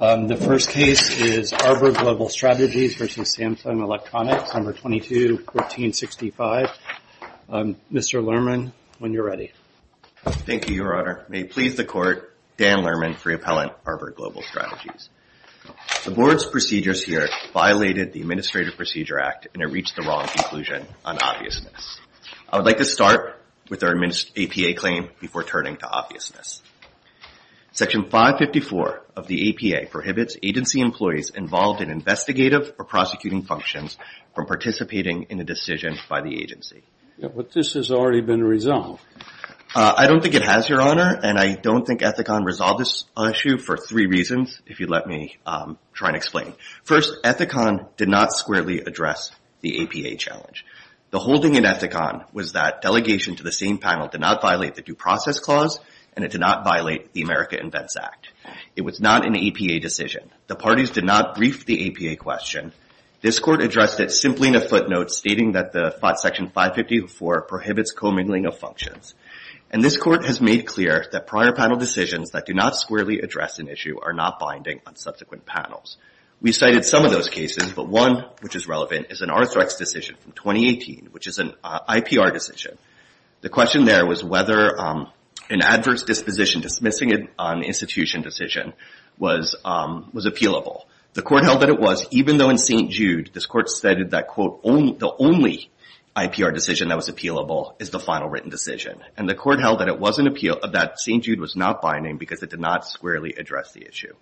The first case is Arbor Global Strategies v. Samsung Electronics, No. 22-1465. Mr. Lerman, when you're ready. Thank you, Your Honor. May it please the Court, Dan Lerman, Free Appellant, Arbor Global Strategies. The Board's procedures here violated the Administrative Procedure Act and it reached the wrong conclusion on obviousness. I would like to start with our APA claim before turning to obviousness. Section 554 of the APA prohibits agency employees involved in investigative or prosecuting functions from participating in a decision by the agency. But this has already been resolved. I don't think it has, Your Honor, and I don't think Ethicon resolved this issue for three reasons, if you'd let me try and explain. First, Ethicon did not squarely address the APA challenge. The holding in Ethicon was that delegation to the same panel did not violate the Due Process Clause and it did not violate the America Invents Act. It was not an APA decision. The parties did not brief the APA question. This Court addressed it simply in a footnote stating that Section 554 prohibits commingling of functions. And this Court has made clear that prior panel decisions that do not squarely address an issue are not binding on subsequent panels. We cited some of those cases, but one which is relevant is an Arthrex decision from 2018, which is an IPR decision. The question there was whether an adverse disposition, dismissing an institution decision, was appealable. The Court held that it was, even though in St. Jude, this Court stated that, quote, the only IPR decision that was appealable is the final written decision. And the Court held that it was an appeal, that St. Jude was not binding because it did not squarely address the issue.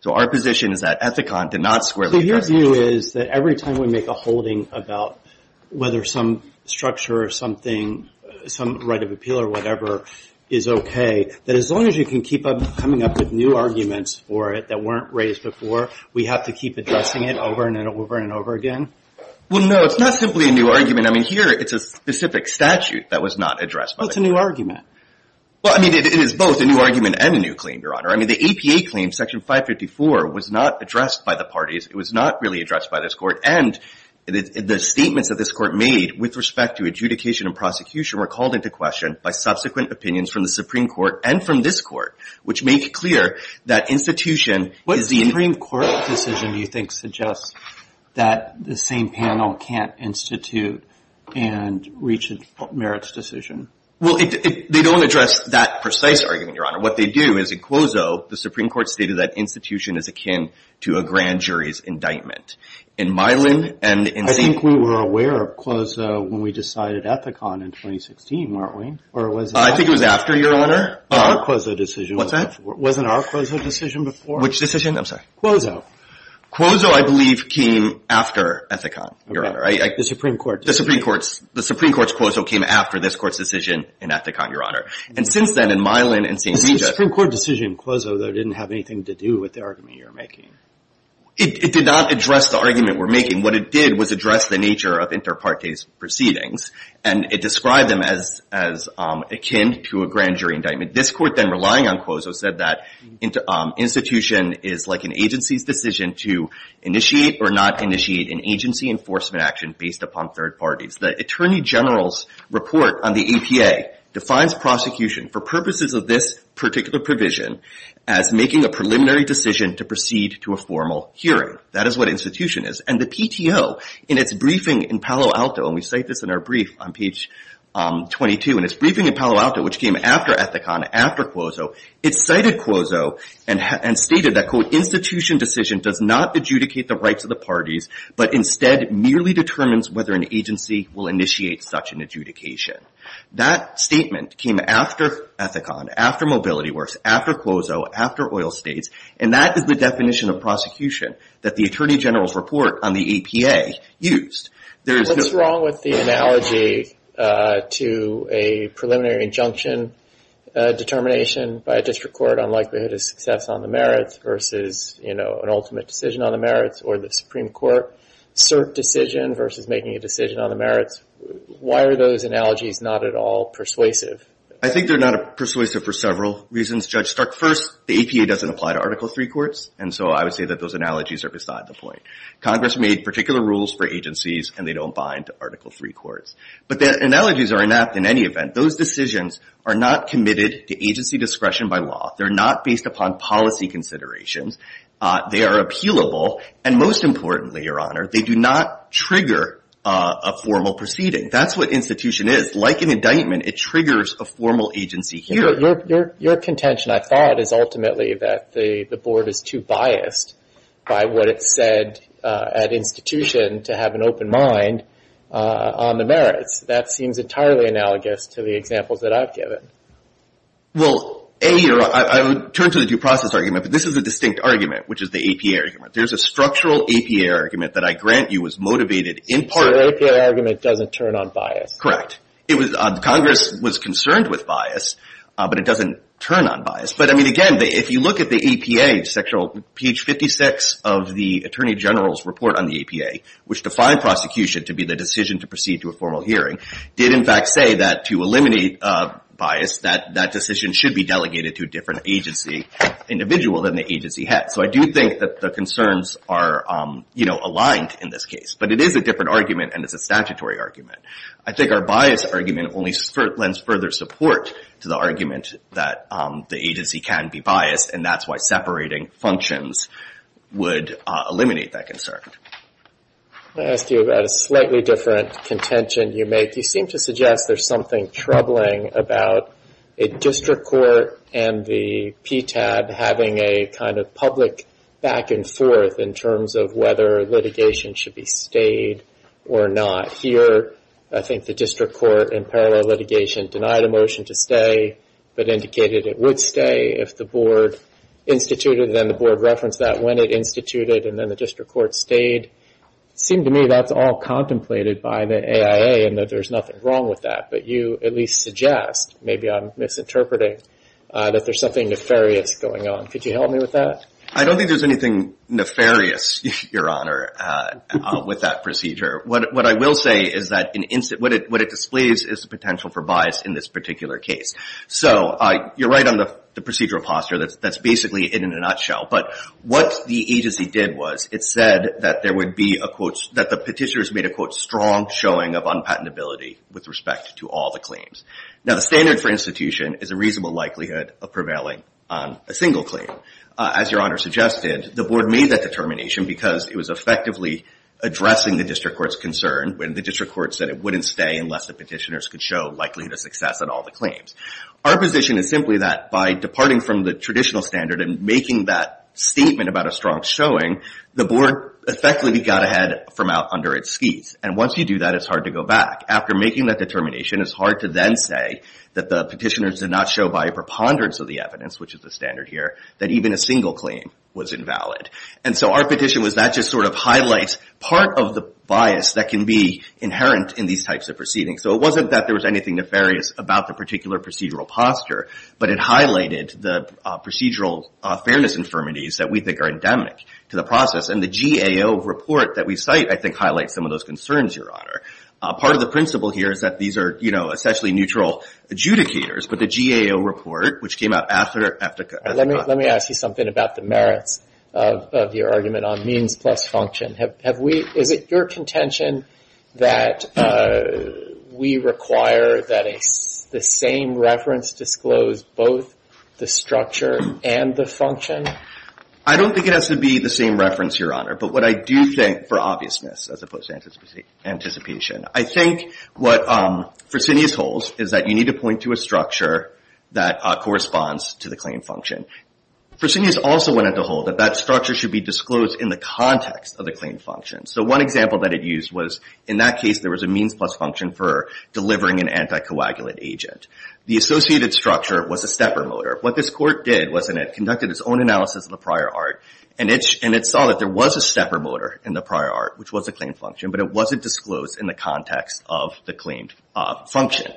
So our position is that Ethicon did not squarely address the issue. So your view is that every time we make a holding about whether some structure or something, some right of appeal or whatever is okay, that as long as you can keep coming up with new arguments for it that weren't raised before, we have to keep addressing it over and over and over again? Well, no, it's not simply a new argument. I mean, here it's a specific statute that was not addressed by the Court. Well, it's a new argument. Well, I mean, it is both a new argument and a new claim, Your Honor. I mean, the APA claim, Section 554, was not addressed by the parties. It was not really addressed by this Court. And the statements that this Court made with respect to adjudication and prosecution were called into question by subsequent opinions from the Supreme Court and from this Court, which make clear that institution is the... What Supreme Court decision do you think suggests that the same panel can't institute and reach a merits decision? Well, they don't address that precise argument, Your Honor. What they do is in Quozo, the Supreme Court stated that institution is akin to a grand jury's indictment. In Milan and in Saint... I think we were aware of Quozo when we decided Ethicon in 2016, weren't we? Or was it... I think it was after, Your Honor. Our Quozo decision... What's that? Wasn't our Quozo decision before? Which decision? I'm sorry. Quozo. Quozo, I believe, came after Ethicon, Your Honor. Okay, the Supreme Court decision. The Supreme Court's Quozo came after this Court's decision in Ethicon, Your Honor. And since then, in Milan and Saint Vita... The Supreme Court decision in Quozo, though, didn't have anything to do with the argument you're making. It did not address the argument we're making. What it did was address the nature of inter partes proceedings. And it described them as akin to a grand jury indictment. This Court then, relying on Quozo, said that institution is like an agency's decision to initiate or not initiate an agency enforcement action based upon third parties. The Attorney General's report on the APA defines prosecution for purposes of this particular provision as making a preliminary decision to proceed to a formal hearing. That is what institution is. And the PTO, in its briefing in Palo Alto, and we cite this in our brief on page 22, in its briefing in Palo Alto, which came after Ethicon, after Quozo, it cited Quozo and stated that, quote, institution decision does not adjudicate the rights of the parties, but instead merely determines whether an agency will initiate such an adjudication. That statement came after Ethicon, after Mobility Works, after Quozo, after oil states. And that is the definition of prosecution that the Attorney General's report on the APA used. There is no... What's wrong with the analogy to a preliminary injunction determination by a district court on likelihood of success on the merits versus, you know, an ultimate decision on the merits, or the Supreme Court cert decision versus making a decision on the merits? Why are those analogies not at all persuasive? I think they're not persuasive for several reasons, Judge Stark. First, the APA doesn't apply to Article III courts, and so I would say that those analogies are beside the point. Congress made particular rules for agencies, and they don't bind to Article III courts. But the analogies are inept in any event. Those decisions are not committed to agency discretion by law. They're not based upon policy considerations. They are appealable. And most importantly, Your Honor, they do not trigger a formal proceeding. That's what institution is. Like an indictment, it triggers a formal agency here. Your contention, I thought, is ultimately that the board is too biased by what it said at institution to have an open mind on the merits. That seems entirely analogous to the examples that I've given. Well, A, I would turn to the due process argument, but this is a distinct argument, which is the APA argument. There's a structural APA argument that I grant you was motivated in part. So your APA argument doesn't turn on bias. Correct. It was Congress was concerned with bias. But it doesn't turn on bias. But I mean, again, if you look at the APA section, page 56 of the attorney general's report on the APA, which defined prosecution to be the decision to proceed to a formal hearing, did in fact say that to eliminate bias, that that decision should be delegated to a different agency individual than the agency had. So I do think that the concerns are aligned in this case. But it is a different argument, and it's a statutory argument. I think our bias argument only lends further support to the argument that the agency can be biased, and that's why separating functions would eliminate that concern. I want to ask you about a slightly different contention you make. You seem to suggest there's something troubling about a district court and the PTAB having a kind of public back and forth in terms of whether litigation should be stayed or not. Here, I think the district court in parallel litigation denied a motion to stay, but indicated it would stay if the board instituted, and then the board referenced that when it instituted, and then the district court stayed. It seemed to me that's all contemplated by the AIA, and that there's nothing wrong with that. But you at least suggest, maybe I'm misinterpreting, that there's something nefarious going on. Could you help me with that? I don't think there's anything nefarious, Your Honor, with that procedure. What I will say is that what it displays is the potential for bias in this particular case. So you're right on the procedural posture. That's basically it in a nutshell. But what the agency did was it said that there would be a quote, that the petitioners made a quote, strong showing of unpatentability with respect to all the claims. Now, the standard for institution is a reasonable likelihood of prevailing on a single claim. As Your Honor suggested, the board made that determination because it was effectively addressing the district court's concern when the district court said it wouldn't stay unless the petitioners could show likelihood of success on all the claims. Our position is simply that by departing from the traditional standard and making that statement about a strong showing, the board effectively got ahead from out under its skis. And once you do that, it's hard to go back. After making that determination, it's hard to then say that the petitioners did not show by a preponderance of the evidence, which is the standard here, that even a single claim was invalid. And so our petition was that just sort of highlights part of the bias that can be inherent in these types of proceedings. So it wasn't that there was anything nefarious about the particular procedural posture, but it highlighted the procedural fairness infirmities that we think are endemic to the process. And the GAO report that we cite, I think, highlights some of those concerns, Your Honor. Part of the principle here is that these are, you know, essentially neutral adjudicators, but the GAO report, which came out after... Let me ask you something about the merits of your argument on means plus function. Is it your contention that we require that the same reference disclose both the structure and the function? I don't think it has to be the same reference, Your Honor. But what I do think, for obviousness, as opposed to anticipation, I think what Fresenius holds is that you need to point to a structure that corresponds to the claim function. Fresenius also went on to hold that that structure should be disclosed in the context of the claim function. So one example that it used was, in that case, there was a means plus function for delivering an anticoagulant agent. The associated structure was a stepper motor. What this court did was, and it conducted its own analysis of the prior art, and it saw that there was a stepper motor in the prior art, which was a claim function, but it wasn't disclosed in the context of the claimed function.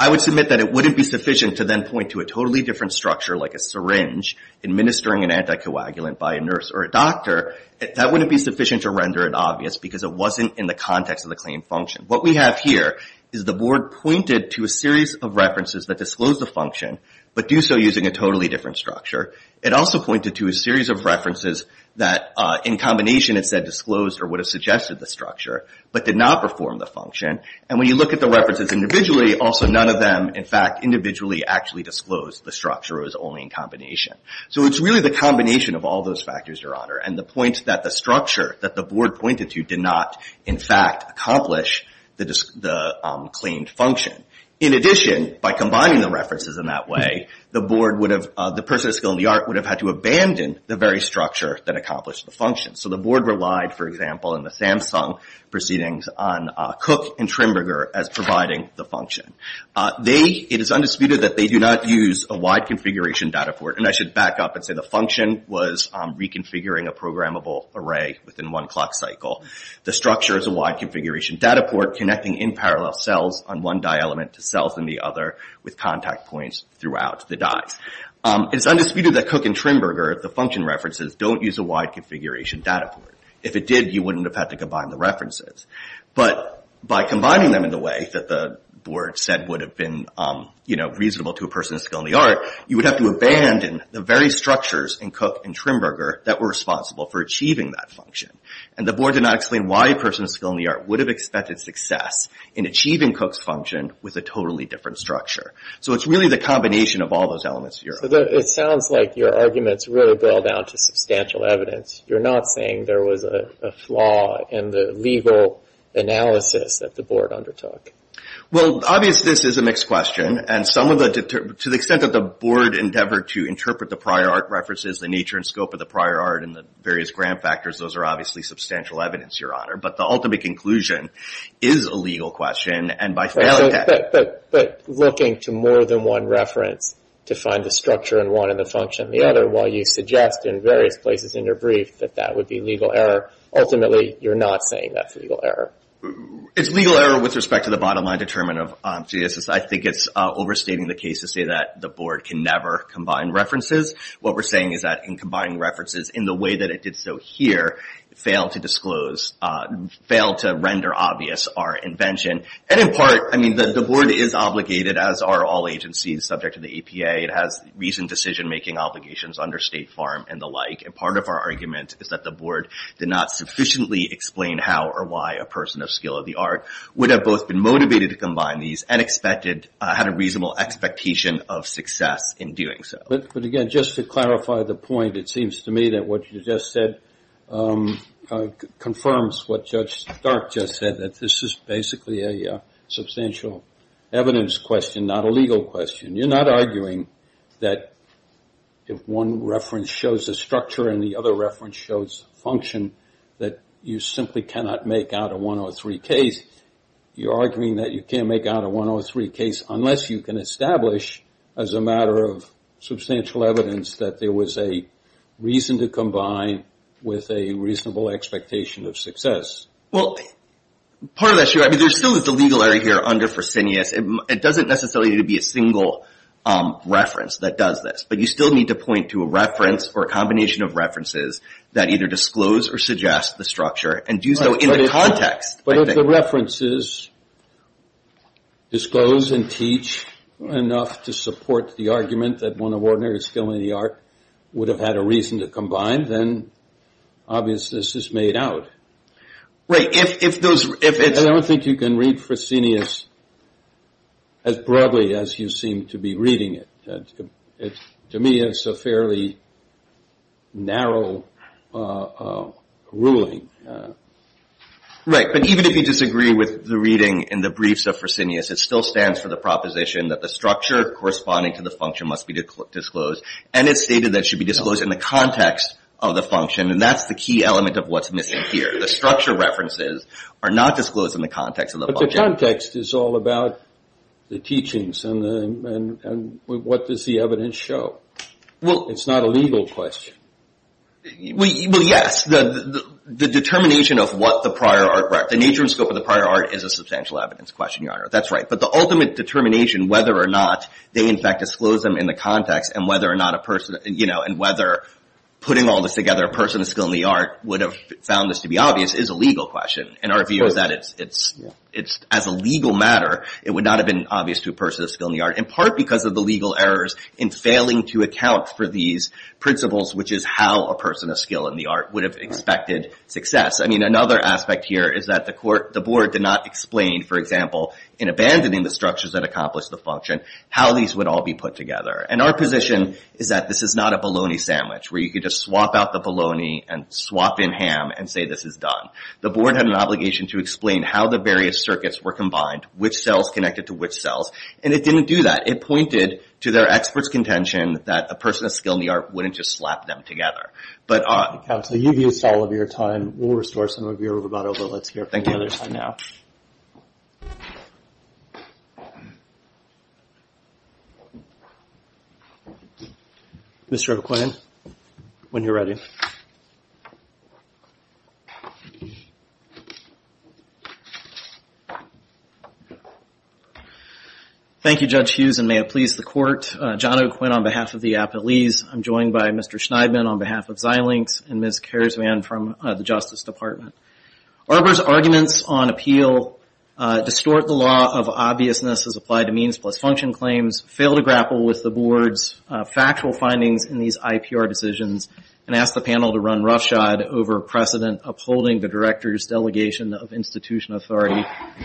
I would submit that it wouldn't be sufficient to then point to a totally different structure, like a syringe administering an anticoagulant by a nurse or a doctor. That wouldn't be sufficient to render it obvious because it wasn't in the context of the claim function. What we have here is the board pointed to a series of references that disclosed the function, but do so using a totally different structure. It also pointed to a series of references that, in combination, it said disclosed or would have suggested the structure, but did not perform the function. And when you look at the references individually, also none of them, in fact, individually actually disclosed the structure. It was only in combination. So it's really the combination of all those factors, Your Honor, and the point that the structure that the board pointed to did not, in fact, accomplish the claimed function. In addition, by combining the references in that way, the board would have, the person of skill in the art would have had to abandon the very structure that accomplished the function. So the board relied, for example, in the Samsung proceedings on Cook and Trimburger as providing the function. It is undisputed that they do not use a wide configuration data for it. And I should back up and say the function was reconfiguring a programmable array within one clock cycle. The structure is a wide configuration data port connecting in parallel cells on one die element to cells in the other with contact points throughout the dies. It is undisputed that Cook and Trimburger, the function references, don't use a wide configuration data port. If it did, you wouldn't have had to combine the references. But by combining them in the way that the board said would have been reasonable to a person of skill in the art, you would have to abandon the very structures in Cook and Trimburger that were responsible for achieving that function. And the board did not explain why a person of skill in the art would have expected success in achieving Cook's function with a totally different structure. So it's really the combination of all those elements. It sounds like your arguments really boil down to substantial evidence. You're not saying there was a flaw in the legal analysis that the board undertook. Well, obviously, this is a mixed question. And to the extent that the board endeavored to interpret the prior art references, the nature and scope of the prior art, and the various grant factors, those are obviously substantial evidence, But the ultimate conclusion is a legal question. And by failing that... But looking to more than one reference to find the structure in one and the function in the other, while you suggest in various places in your brief that that would be legal error, ultimately, you're not saying that's legal error. It's legal error with respect to the bottom line determinant of GSS. I think it's overstating the case to say that the board can never combine references. What we're saying is that in combining references in the way that it did so here, failed to disclose, failed to render obvious our invention. And in part, I mean, the board is obligated, as are all agencies subject to the APA. It has recent decision-making obligations under State Farm and the like. And part of our argument is that the board did not sufficiently explain how or why a person of skill of the art would have both been motivated to combine these and had a reasonable expectation of success in doing so. But again, just to clarify the point, it seems to me that what you just said confirms what Judge Stark just said, that this is basically a substantial evidence question, not a legal question. You're not arguing that if one reference shows a structure and the other reference shows function, that you simply cannot make out a 103 case. You're arguing that you can't make out a 103 case unless you can establish, as a matter of substantial evidence, that there was a reason to combine with a reasonable expectation of success. Well, part of that's true. I mean, there's still the legal area here under Fresenius. It doesn't necessarily need to be a single reference that does this. But you still need to point to a reference or a combination of references that either disclose or suggest the structure and do so in the context. But if the references disclose and teach enough to support the argument that one of ordinary skill in the art would have had a reason to combine, then obviousness is made out. Right. If those, if it's... I don't think you can read Fresenius as broadly as you seem to be reading it. To me, it's a fairly narrow ruling. Right. But even if you disagree with the reading in the briefs of Fresenius, it still stands for the proposition that the structure corresponding to the function must be disclosed. And it's stated that it should be disclosed in the context of the function. And that's the key element of what's missing here. The structure references are not disclosed in the context of the function. But the context is all about the teachings and what does the evidence show. It's not a legal question. Well, yes. The determination of what the prior artwork, the nature and scope of the prior art is a substantial evidence question, Your Honor. That's right. But the ultimate determination, whether or not they, in fact, disclose them in the context and whether or not a person, and whether putting all this together, a person of skill in the art would have found this to be obvious is a legal question. And our view is that as a legal matter, it would not have been obvious to a person of skill in the art, in part because of the legal errors in failing to account for these principles, which is how a person of skill in the art would have expected success. I mean, another aspect here is that the board did not explain, in abandoning the structures that accomplished the function, how these would all be put together. And our position is that this is not a bologna sandwich where you could just swap out the bologna and swap in ham and say this is done. The board had an obligation to explain how the various circuits were combined, which cells connected to which cells. And it didn't do that. It pointed to their expert's contention that a person of skill in the art wouldn't just slap them together. But... Counsel, you've used all of your time. We'll restore some of your rubato, but let's hear from the other side now. Mr. O'Quinn, when you're ready. Thank you, Judge Hughes, and may it please the court. John O'Quinn on behalf of the appellees. I'm joined by Mr. Schneidman on behalf of Xilinx, and Ms. Kershman from the Justice Department. Arbor's arguments on appeal distort the law of obviousness as applied to means plus function claims, fail to grapple with the board's factual findings in these IPR decisions, and ask the panel to run roughshod over precedent upholding the director's delegation of institution authority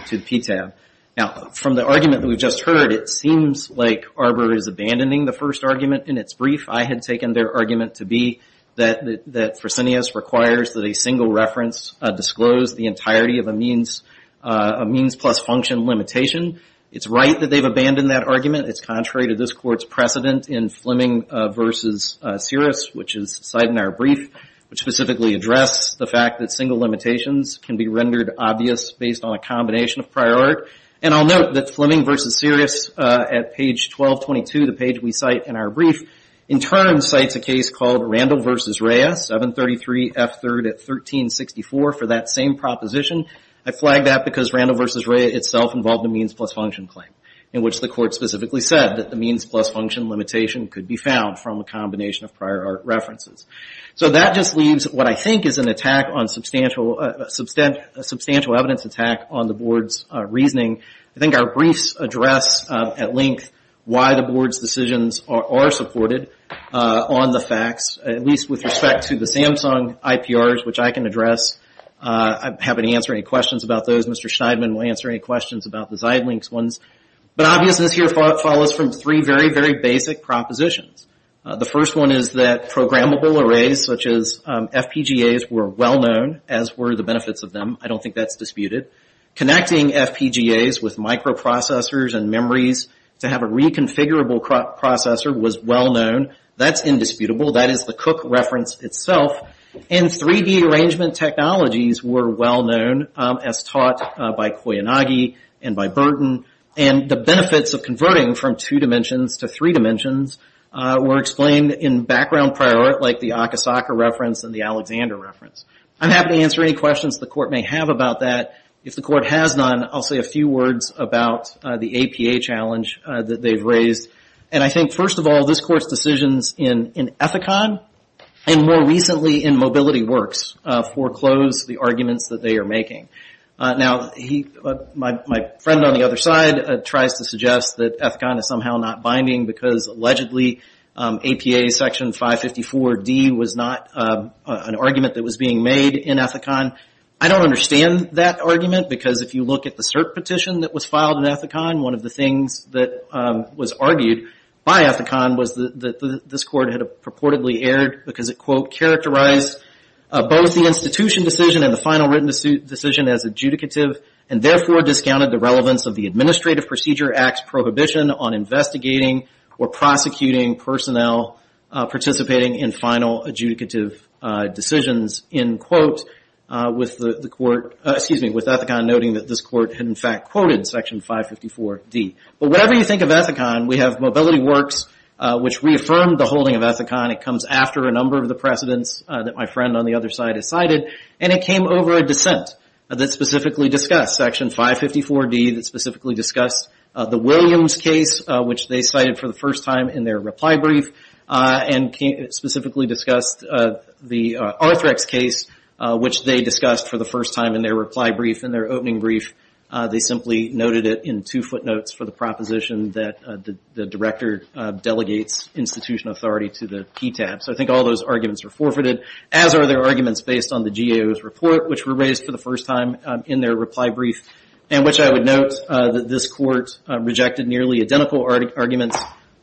to PTAB. Now, from the argument that we've just heard, it seems like Arbor is abandoning the first argument in its brief. I had taken their argument to be that Fresenius requires that a single reference disclose the entirety of a means plus function limitation. It's right that they've abandoned that argument. It's contrary to this court's precedent in Fleming v. Sirius, which is cited in our brief, which specifically address the fact that single limitations can be rendered obvious based on a combination of prior art. And I'll note that Fleming v. Sirius at page 1222, the page we cite in our brief, in turn cites a case called Randall v. Rhea, 733 F3rd at 1364 for that same proposition. I flagged that because Randall v. Rhea itself involved a means plus function claim, in which the court specifically said that the means plus function limitation could be found from a combination of prior art references. So that just leaves what I think is an attack on substantial, a substantial evidence attack on the board's reasoning. I think our briefs address at length why the board's decisions are supported on the facts, at least with respect to the Samsung IPRs, which I can address. I'm happy to answer any questions about those. Mr. Schneidman will answer any questions about the Xilinx ones. But obviousness here follows from three very, very basic propositions. The first one is that programmable arrays such as FPGAs were well known, as were the benefits of them. I don't think that's disputed. Connecting FPGAs with microprocessors and memories to have a reconfigurable processor was well known. That's indisputable. That is the Cook reference itself. And 3D arrangement technologies were well known, as taught by Koyanagi and by Burton. And the benefits of converting from two dimensions to three dimensions were explained in background prior art, like the Akasaka reference and the Alexander reference. I'm happy to answer any questions the court may have about that. If the court has none, I'll say a few words about the APA challenge that they've raised. And I think, first of all, this court's decisions in Ethicon and more recently in MobilityWorks foreclose the arguments that they are making. Now, my friend on the other side tries to suggest that Ethicon is somehow not binding because allegedly APA section 554D was not an argument that was being made in Ethicon. I don't understand that argument because if you look at the CERT petition that was filed in Ethicon, one of the things that was argued by Ethicon was that this court had purportedly erred because it, quote, characterized both the institution decision and the final written decision as adjudicative and therefore discounted the relevance of the Administrative Procedure Act's prohibition on investigating or prosecuting personnel participating in final adjudicative decisions, end quote, with Ethicon noting that this court had, in fact, quoted section 554D. But whatever you think of Ethicon, we have MobilityWorks, which reaffirmed the holding of Ethicon. It comes after a number of the precedents that my friend on the other side has cited and it came over a dissent that specifically discussed section 554D, that specifically discussed the Williams case, which they cited for the first time in their reply brief and specifically discussed the Arthrex case, which they discussed for the first time in their reply brief in their opening brief. They simply noted it in two footnotes for the proposition that the director delegates institution authority to the PTAB. So I think all those arguments were forfeited, as are their arguments based on the GAO's report, which were raised for the first time in their reply brief and which I would note that this court rejected nearly identical arguments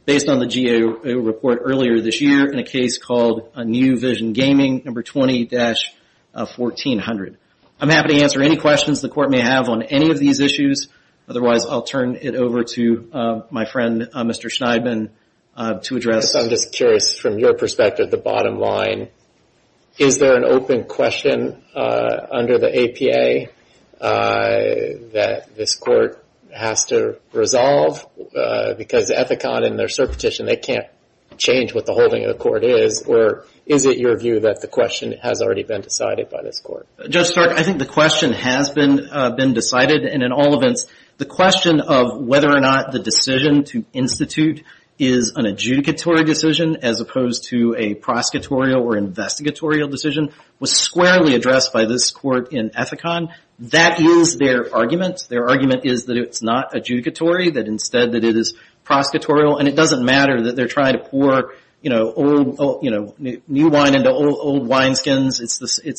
based on the GAO report earlier this year in a case called New Vision Gaming, number 20-1400. I'm happy to answer any questions the court may have on any of these issues. Otherwise, I'll turn it over to my friend, Mr. Schneidman, to address. I'm just curious from your perspective, the bottom line, is there an open question under the APA that this court has to resolve because Ethicon and their cert petition, they can't change what the holding of the court is or is it your view that the question has already been decided by this court? Judge Stark, I think the question has been decided and in all events, the question of whether or not the decision to institute is an adjudicatory decision as opposed to a prosecutorial or investigatorial decision was squarely addressed by this court in Ethicon. That is their argument. Their argument is that it's not adjudicatory, that instead that it is prosecutorial and it doesn't matter that they're trying to pour new wine into old wineskins. It's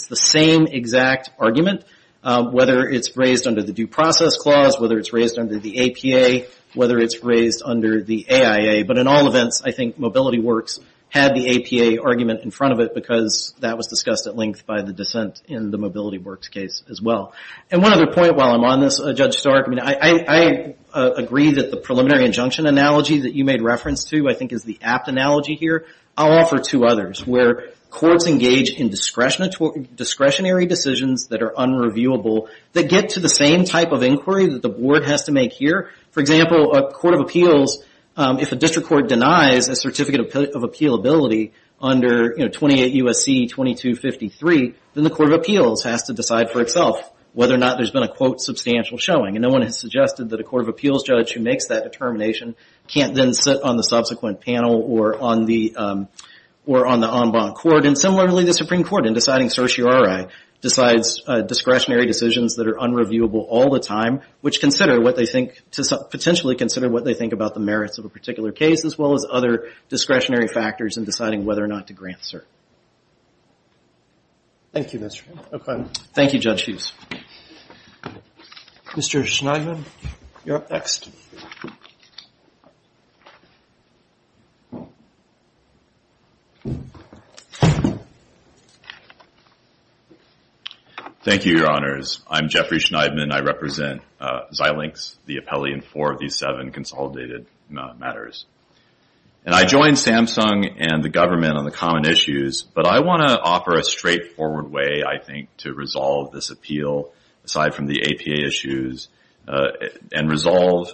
the same exact argument, whether it's raised under the Due Process Clause, whether it's raised under the APA, whether it's raised under the AIA, but in all events, I think Mobility Works had the APA argument in front of it because that was discussed at length by the dissent in the Mobility Works case as well. And one other point while I'm on this, Judge Stark, I agree that the preliminary injunction analogy that you made reference to, I think is the apt analogy here. I'll offer two others where courts engage in discretionary decisions that are unreviewable that get to the same type of inquiry that the board has to make here. For example, a court of appeals, if a district court denies a certificate of appealability under 28 U.S.C. 2253, then the court of appeals has to decide for itself whether or not there's been a quote substantial showing. And no one has suggested that a court of appeals judge who makes that determination can't then sit on the subsequent panel or on the en banc court. And similarly, the Supreme Court in deciding certiorari decides discretionary decisions that are unreviewable all the time, which consider what they think, potentially consider what they think about the merits of a particular case as well as other discretionary factors in deciding whether or not to grant cert. Thank you, Judge Hughes. Mr. Schneiderman, you're up next. Thank you, Your Honors. I'm Jeffrey Schneiderman. I represent Xilinx, the appellee in four of these seven consolidated matters. And I joined Samsung and the government on the common issues, but I want to offer a straightforward way, I think, to resolve this appeal aside from the APA issues and resolve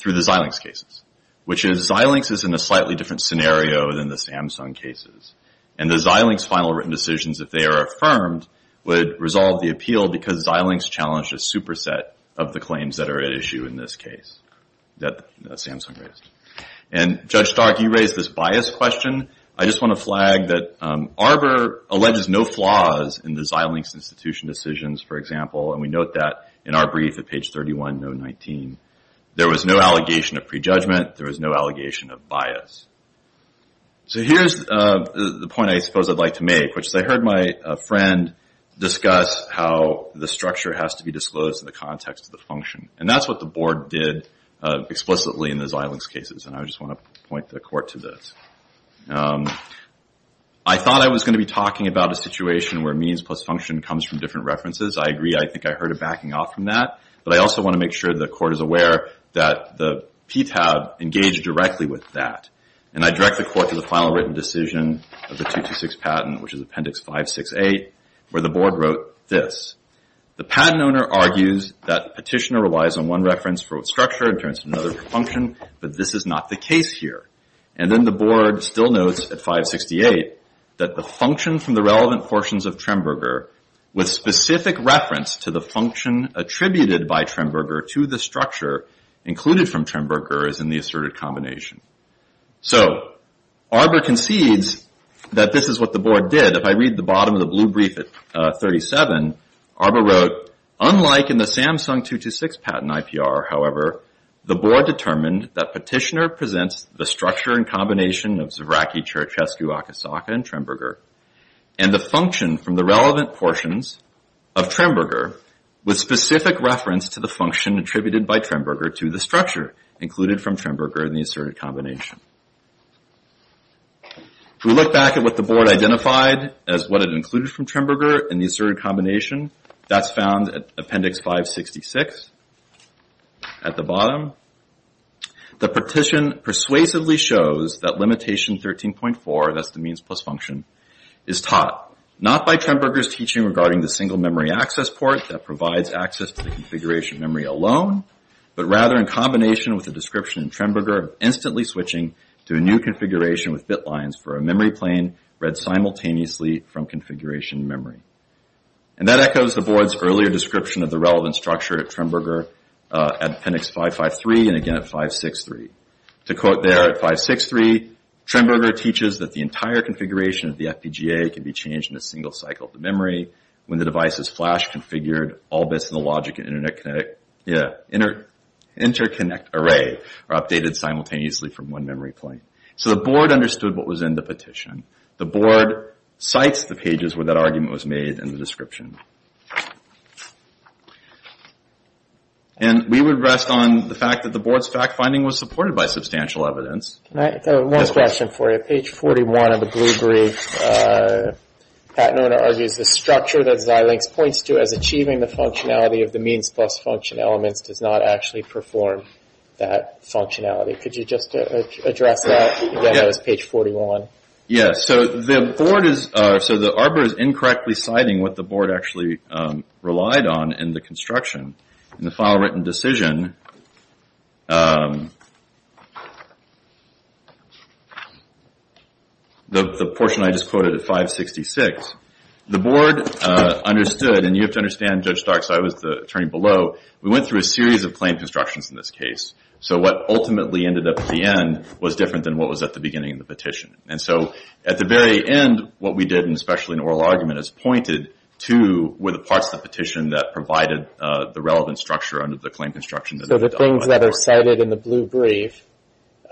through the Xilinx cases, which is Xilinx is in a slightly different scenario than the Samsung cases. And the Xilinx final written decisions, if they are affirmed, would resolve the appeal because Xilinx challenged a superset of the claims that are at issue in this case that Samsung raised. And Judge Stark, you raised this bias question. I just want to flag that Arbor alleges no flaws in the Xilinx institution decisions, for example, and we note that in our brief at page 31, no. 19, there was no allegation of prejudgment. There was no allegation of bias. So here's the point I suppose I'd like to make, which is I heard my friend discuss how the structure has to be disclosed in the context of the function. And that's what the board did explicitly in the Xilinx cases. And I just want to point the court to this. I thought I was going to be talking about a situation where means plus function comes from different references. I agree. I think I heard a backing off from that, but I also want to make sure the court is aware that the PTAB engaged directly with that. And I direct the court to the final written decision of the 226 patent, which is appendix 568, where the board wrote this. The patent owner argues that petitioner relies on one reference for its structure in terms of another function, but this is not the case here. And then the board still notes at 568 that the function from the relevant portions of Tremberger with specific reference to the function attributed by Tremberger to the structure included from Tremberger is in the asserted combination. So Arbor concedes that this is what the board did. If I read the bottom of the blue brief at 37, Arbor wrote, unlike in the Samsung 226 patent IPR, however, the board determined that petitioner presents the structure and combination of Zvraky, Cherchescu, Akasaka, and Tremberger and the function from the relevant portions of Tremberger with specific reference to the function attributed by Tremberger to the structure included from Tremberger in the asserted combination. If we look back at what the board identified as what it included from Tremberger in the asserted combination, that's found at appendix 566 at the bottom. The petition persuasively shows that limitation 13.4, that's the means plus function, is taught not by Tremberger's teaching regarding the single memory access port that provides access to the configuration memory alone, but rather in combination with the description in Tremberger instantly switching to a new configuration with bit lines for a memory plane read simultaneously from configuration memory. And that echoes the board's earlier description of the relevant structure at Tremberger at appendix 553 and again at 563. To quote there at 563, Tremberger teaches that the entire configuration of the FPGA can be changed in a single cycle of the memory when the device is flash configured, all bits of the logic and interconnect array are updated simultaneously from one memory plane. So the board understood what was in the petition. The board cites the pages where that argument was made in the description. And we would rest on the fact that the board's fact finding was supported by substantial evidence. Can I, one question for you. Page 41 of the blue brief, Pat Nona argues the structure that Xilinx points to as achieving the functionality of the means plus function elements does not actually perform that functionality. Could you just address that again as page 41? Yes, so the board is, so the ARPA is incorrectly citing what the board actually relied on in the construction. In the file written decision, the portion I just quoted at 566, the board understood, and you have to understand, Judge Starks, I was the attorney below, we went through a series of claim constructions in this case. So what ultimately ended up at the end was different than what was at the beginning of the petition. And so at the very end, what we did, and especially in oral argument, is pointed to were the parts of the petition that provided the relevant structure under the claim construction. So the things that are cited in the blue brief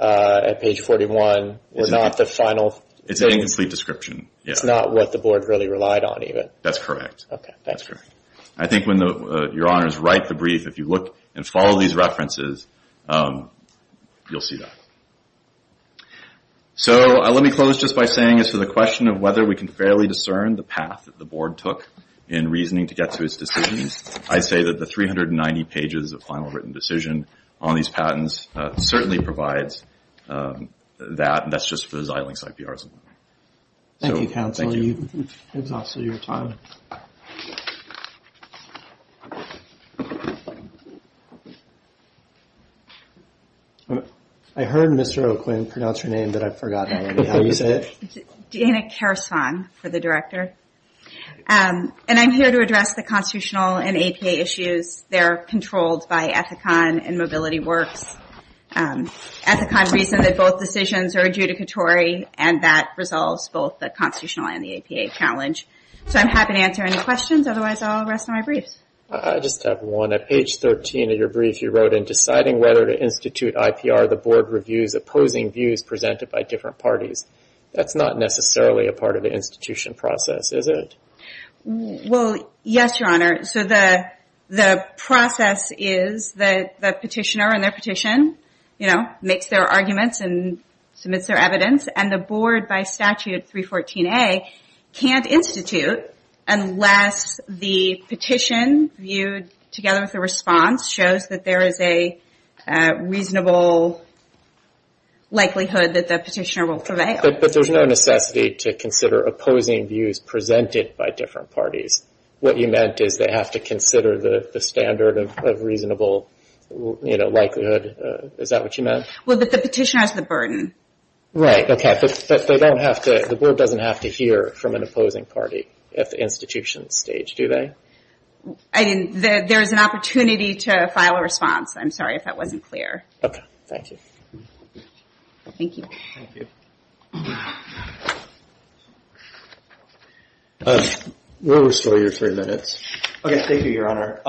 at page 41 were not the final... It's an incomplete description. It's not what the board really relied on even. That's correct. Okay, thanks. I think when your honors write the brief, if you look and follow these references, you'll see that. So let me close just by saying as for the question of whether we can fairly discern the path that the board took in reasoning to get to his decisions, I say that the 390 pages of final written decision on these patents certainly provides that. And that's just for the Xilinx IPRs. Thank you, counsel. It's also your time. I heard Mr. O'Quinn pronounce your name, but I've forgotten how you say it. Deanna Karasong for the director. And I'm here to address the constitutional and APA issues. They're controlled by Ethicon and Mobility Works. Ethicon reasoned that both decisions are adjudicatory and that resolves both the constitutional and the APA challenge. So I'm happy to answer any questions. Otherwise, I'll rest on my briefs. I just have one. At page 13 of your brief, you wrote in deciding whether to institute IPR, the board reviews opposing views presented by different parties. That's not necessarily a part of the institution process, is it? Well, yes, your honor. So the process is that the petitioner in their petition makes their arguments and submits their evidence. And the board, by statute 314A, can't institute unless the petition viewed together with the response shows that there is a reasonable likelihood that the petitioner will prevail. But there's no necessity to consider opposing views presented by different parties. What you meant is they have to consider the standard of reasonable likelihood. Is that what you meant? Well, but the petitioner has the burden. Right, OK. The board doesn't have to hear from an opposing party at the institution stage, do they? There is an opportunity to file a response. I'm sorry if that wasn't clear. OK, thank you. Thank you. We'll restore your three minutes. OK, thank you, your honor.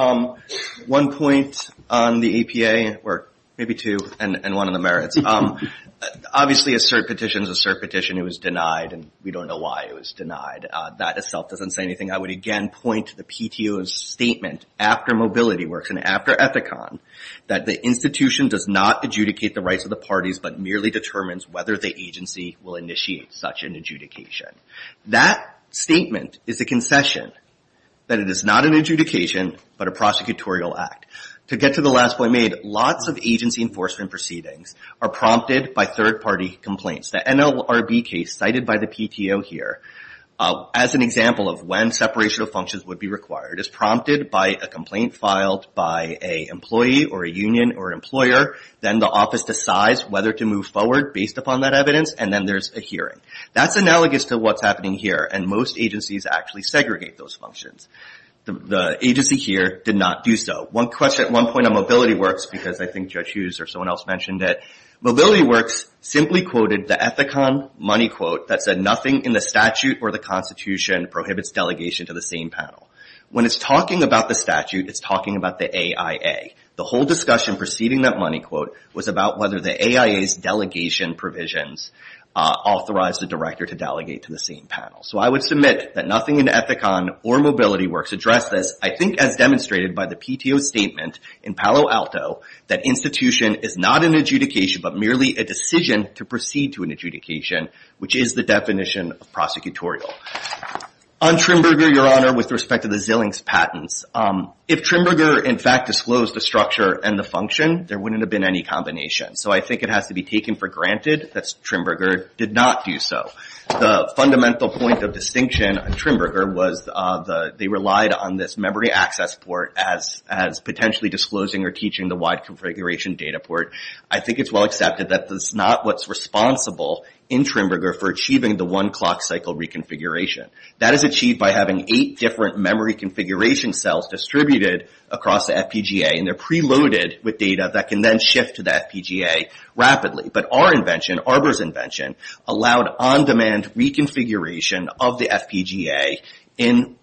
One point on the APA, or maybe two, and one on the merits. Obviously, a cert petition is a cert petition. It was denied, and we don't know why it was denied. That itself doesn't say anything. I would, again, point to the PTO's statement after MobilityWorks and after Epicon that the institution does not adjudicate the rights of the parties, but merely determines whether the agency will initiate such an adjudication. That statement is a concession that it is not an adjudication, but a prosecutorial act. To get to the last point made, lots of agency enforcement proceedings are prompted by third party complaints. The NLRB case, cited by the PTO here, as an example of when separation of functions would be required, is prompted by a complaint filed by a employee, or a union, or an employer. Then the office decides whether to move forward based upon that evidence, and then there's a hearing. That's analogous to what's happening here, and most agencies actually segregate those functions. The agency here did not do so. At one point on MobilityWorks, because I think Judge Hughes or someone else mentioned it, MobilityWorks simply quoted the Epicon money quote that said, nothing in the statute or the constitution prohibits delegation to the same panel. When it's talking about the statute, it's talking about the AIA. The whole discussion preceding that money quote was about whether the AIA's delegation provisions authorized the director to delegate to the same panel. I would submit that nothing in Epicon or MobilityWorks addressed this, I think as demonstrated by the PTO statement in Palo Alto, that institution is not an adjudication, but merely a decision to proceed to an adjudication, which is the definition of prosecutorial. On Trimburger, Your Honor, with respect to the Zillings patents, if Trimburger, in fact, disclosed the structure and the function, there wouldn't have been any combination. I think it has to be taken for granted that Trimburger did not do so. The fundamental point of distinction on Trimburger was they relied on this memory access port as potentially disclosing or teaching the wide configuration data port. I think it's well accepted that this is not what's responsible in Trimburger for achieving the one clock cycle reconfiguration. That is achieved by having eight different memory configuration cells distributed across the FPGA, and they're preloaded with data that can then shift to the FPGA rapidly. But our invention, Arbor's invention, allowed on-demand reconfiguration of the FPGA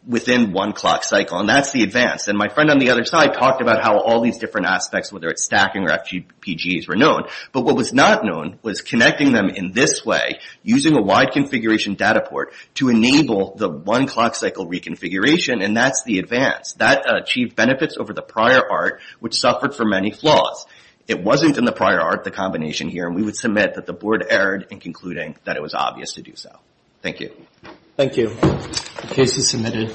within one clock cycle, and that's the advance. My friend on the other side talked about how all these different aspects, whether it's stacking or FPGAs, were known. But what was not known was connecting them in this way, using a wide configuration data port to enable the one clock cycle reconfiguration, and that's the advance. That achieved benefits over the prior art, which suffered from many flaws. It wasn't in the prior art, the combination here, and we would submit that the board erred in concluding that it was obvious to do so. Thank you. Thank you. The case is submitted.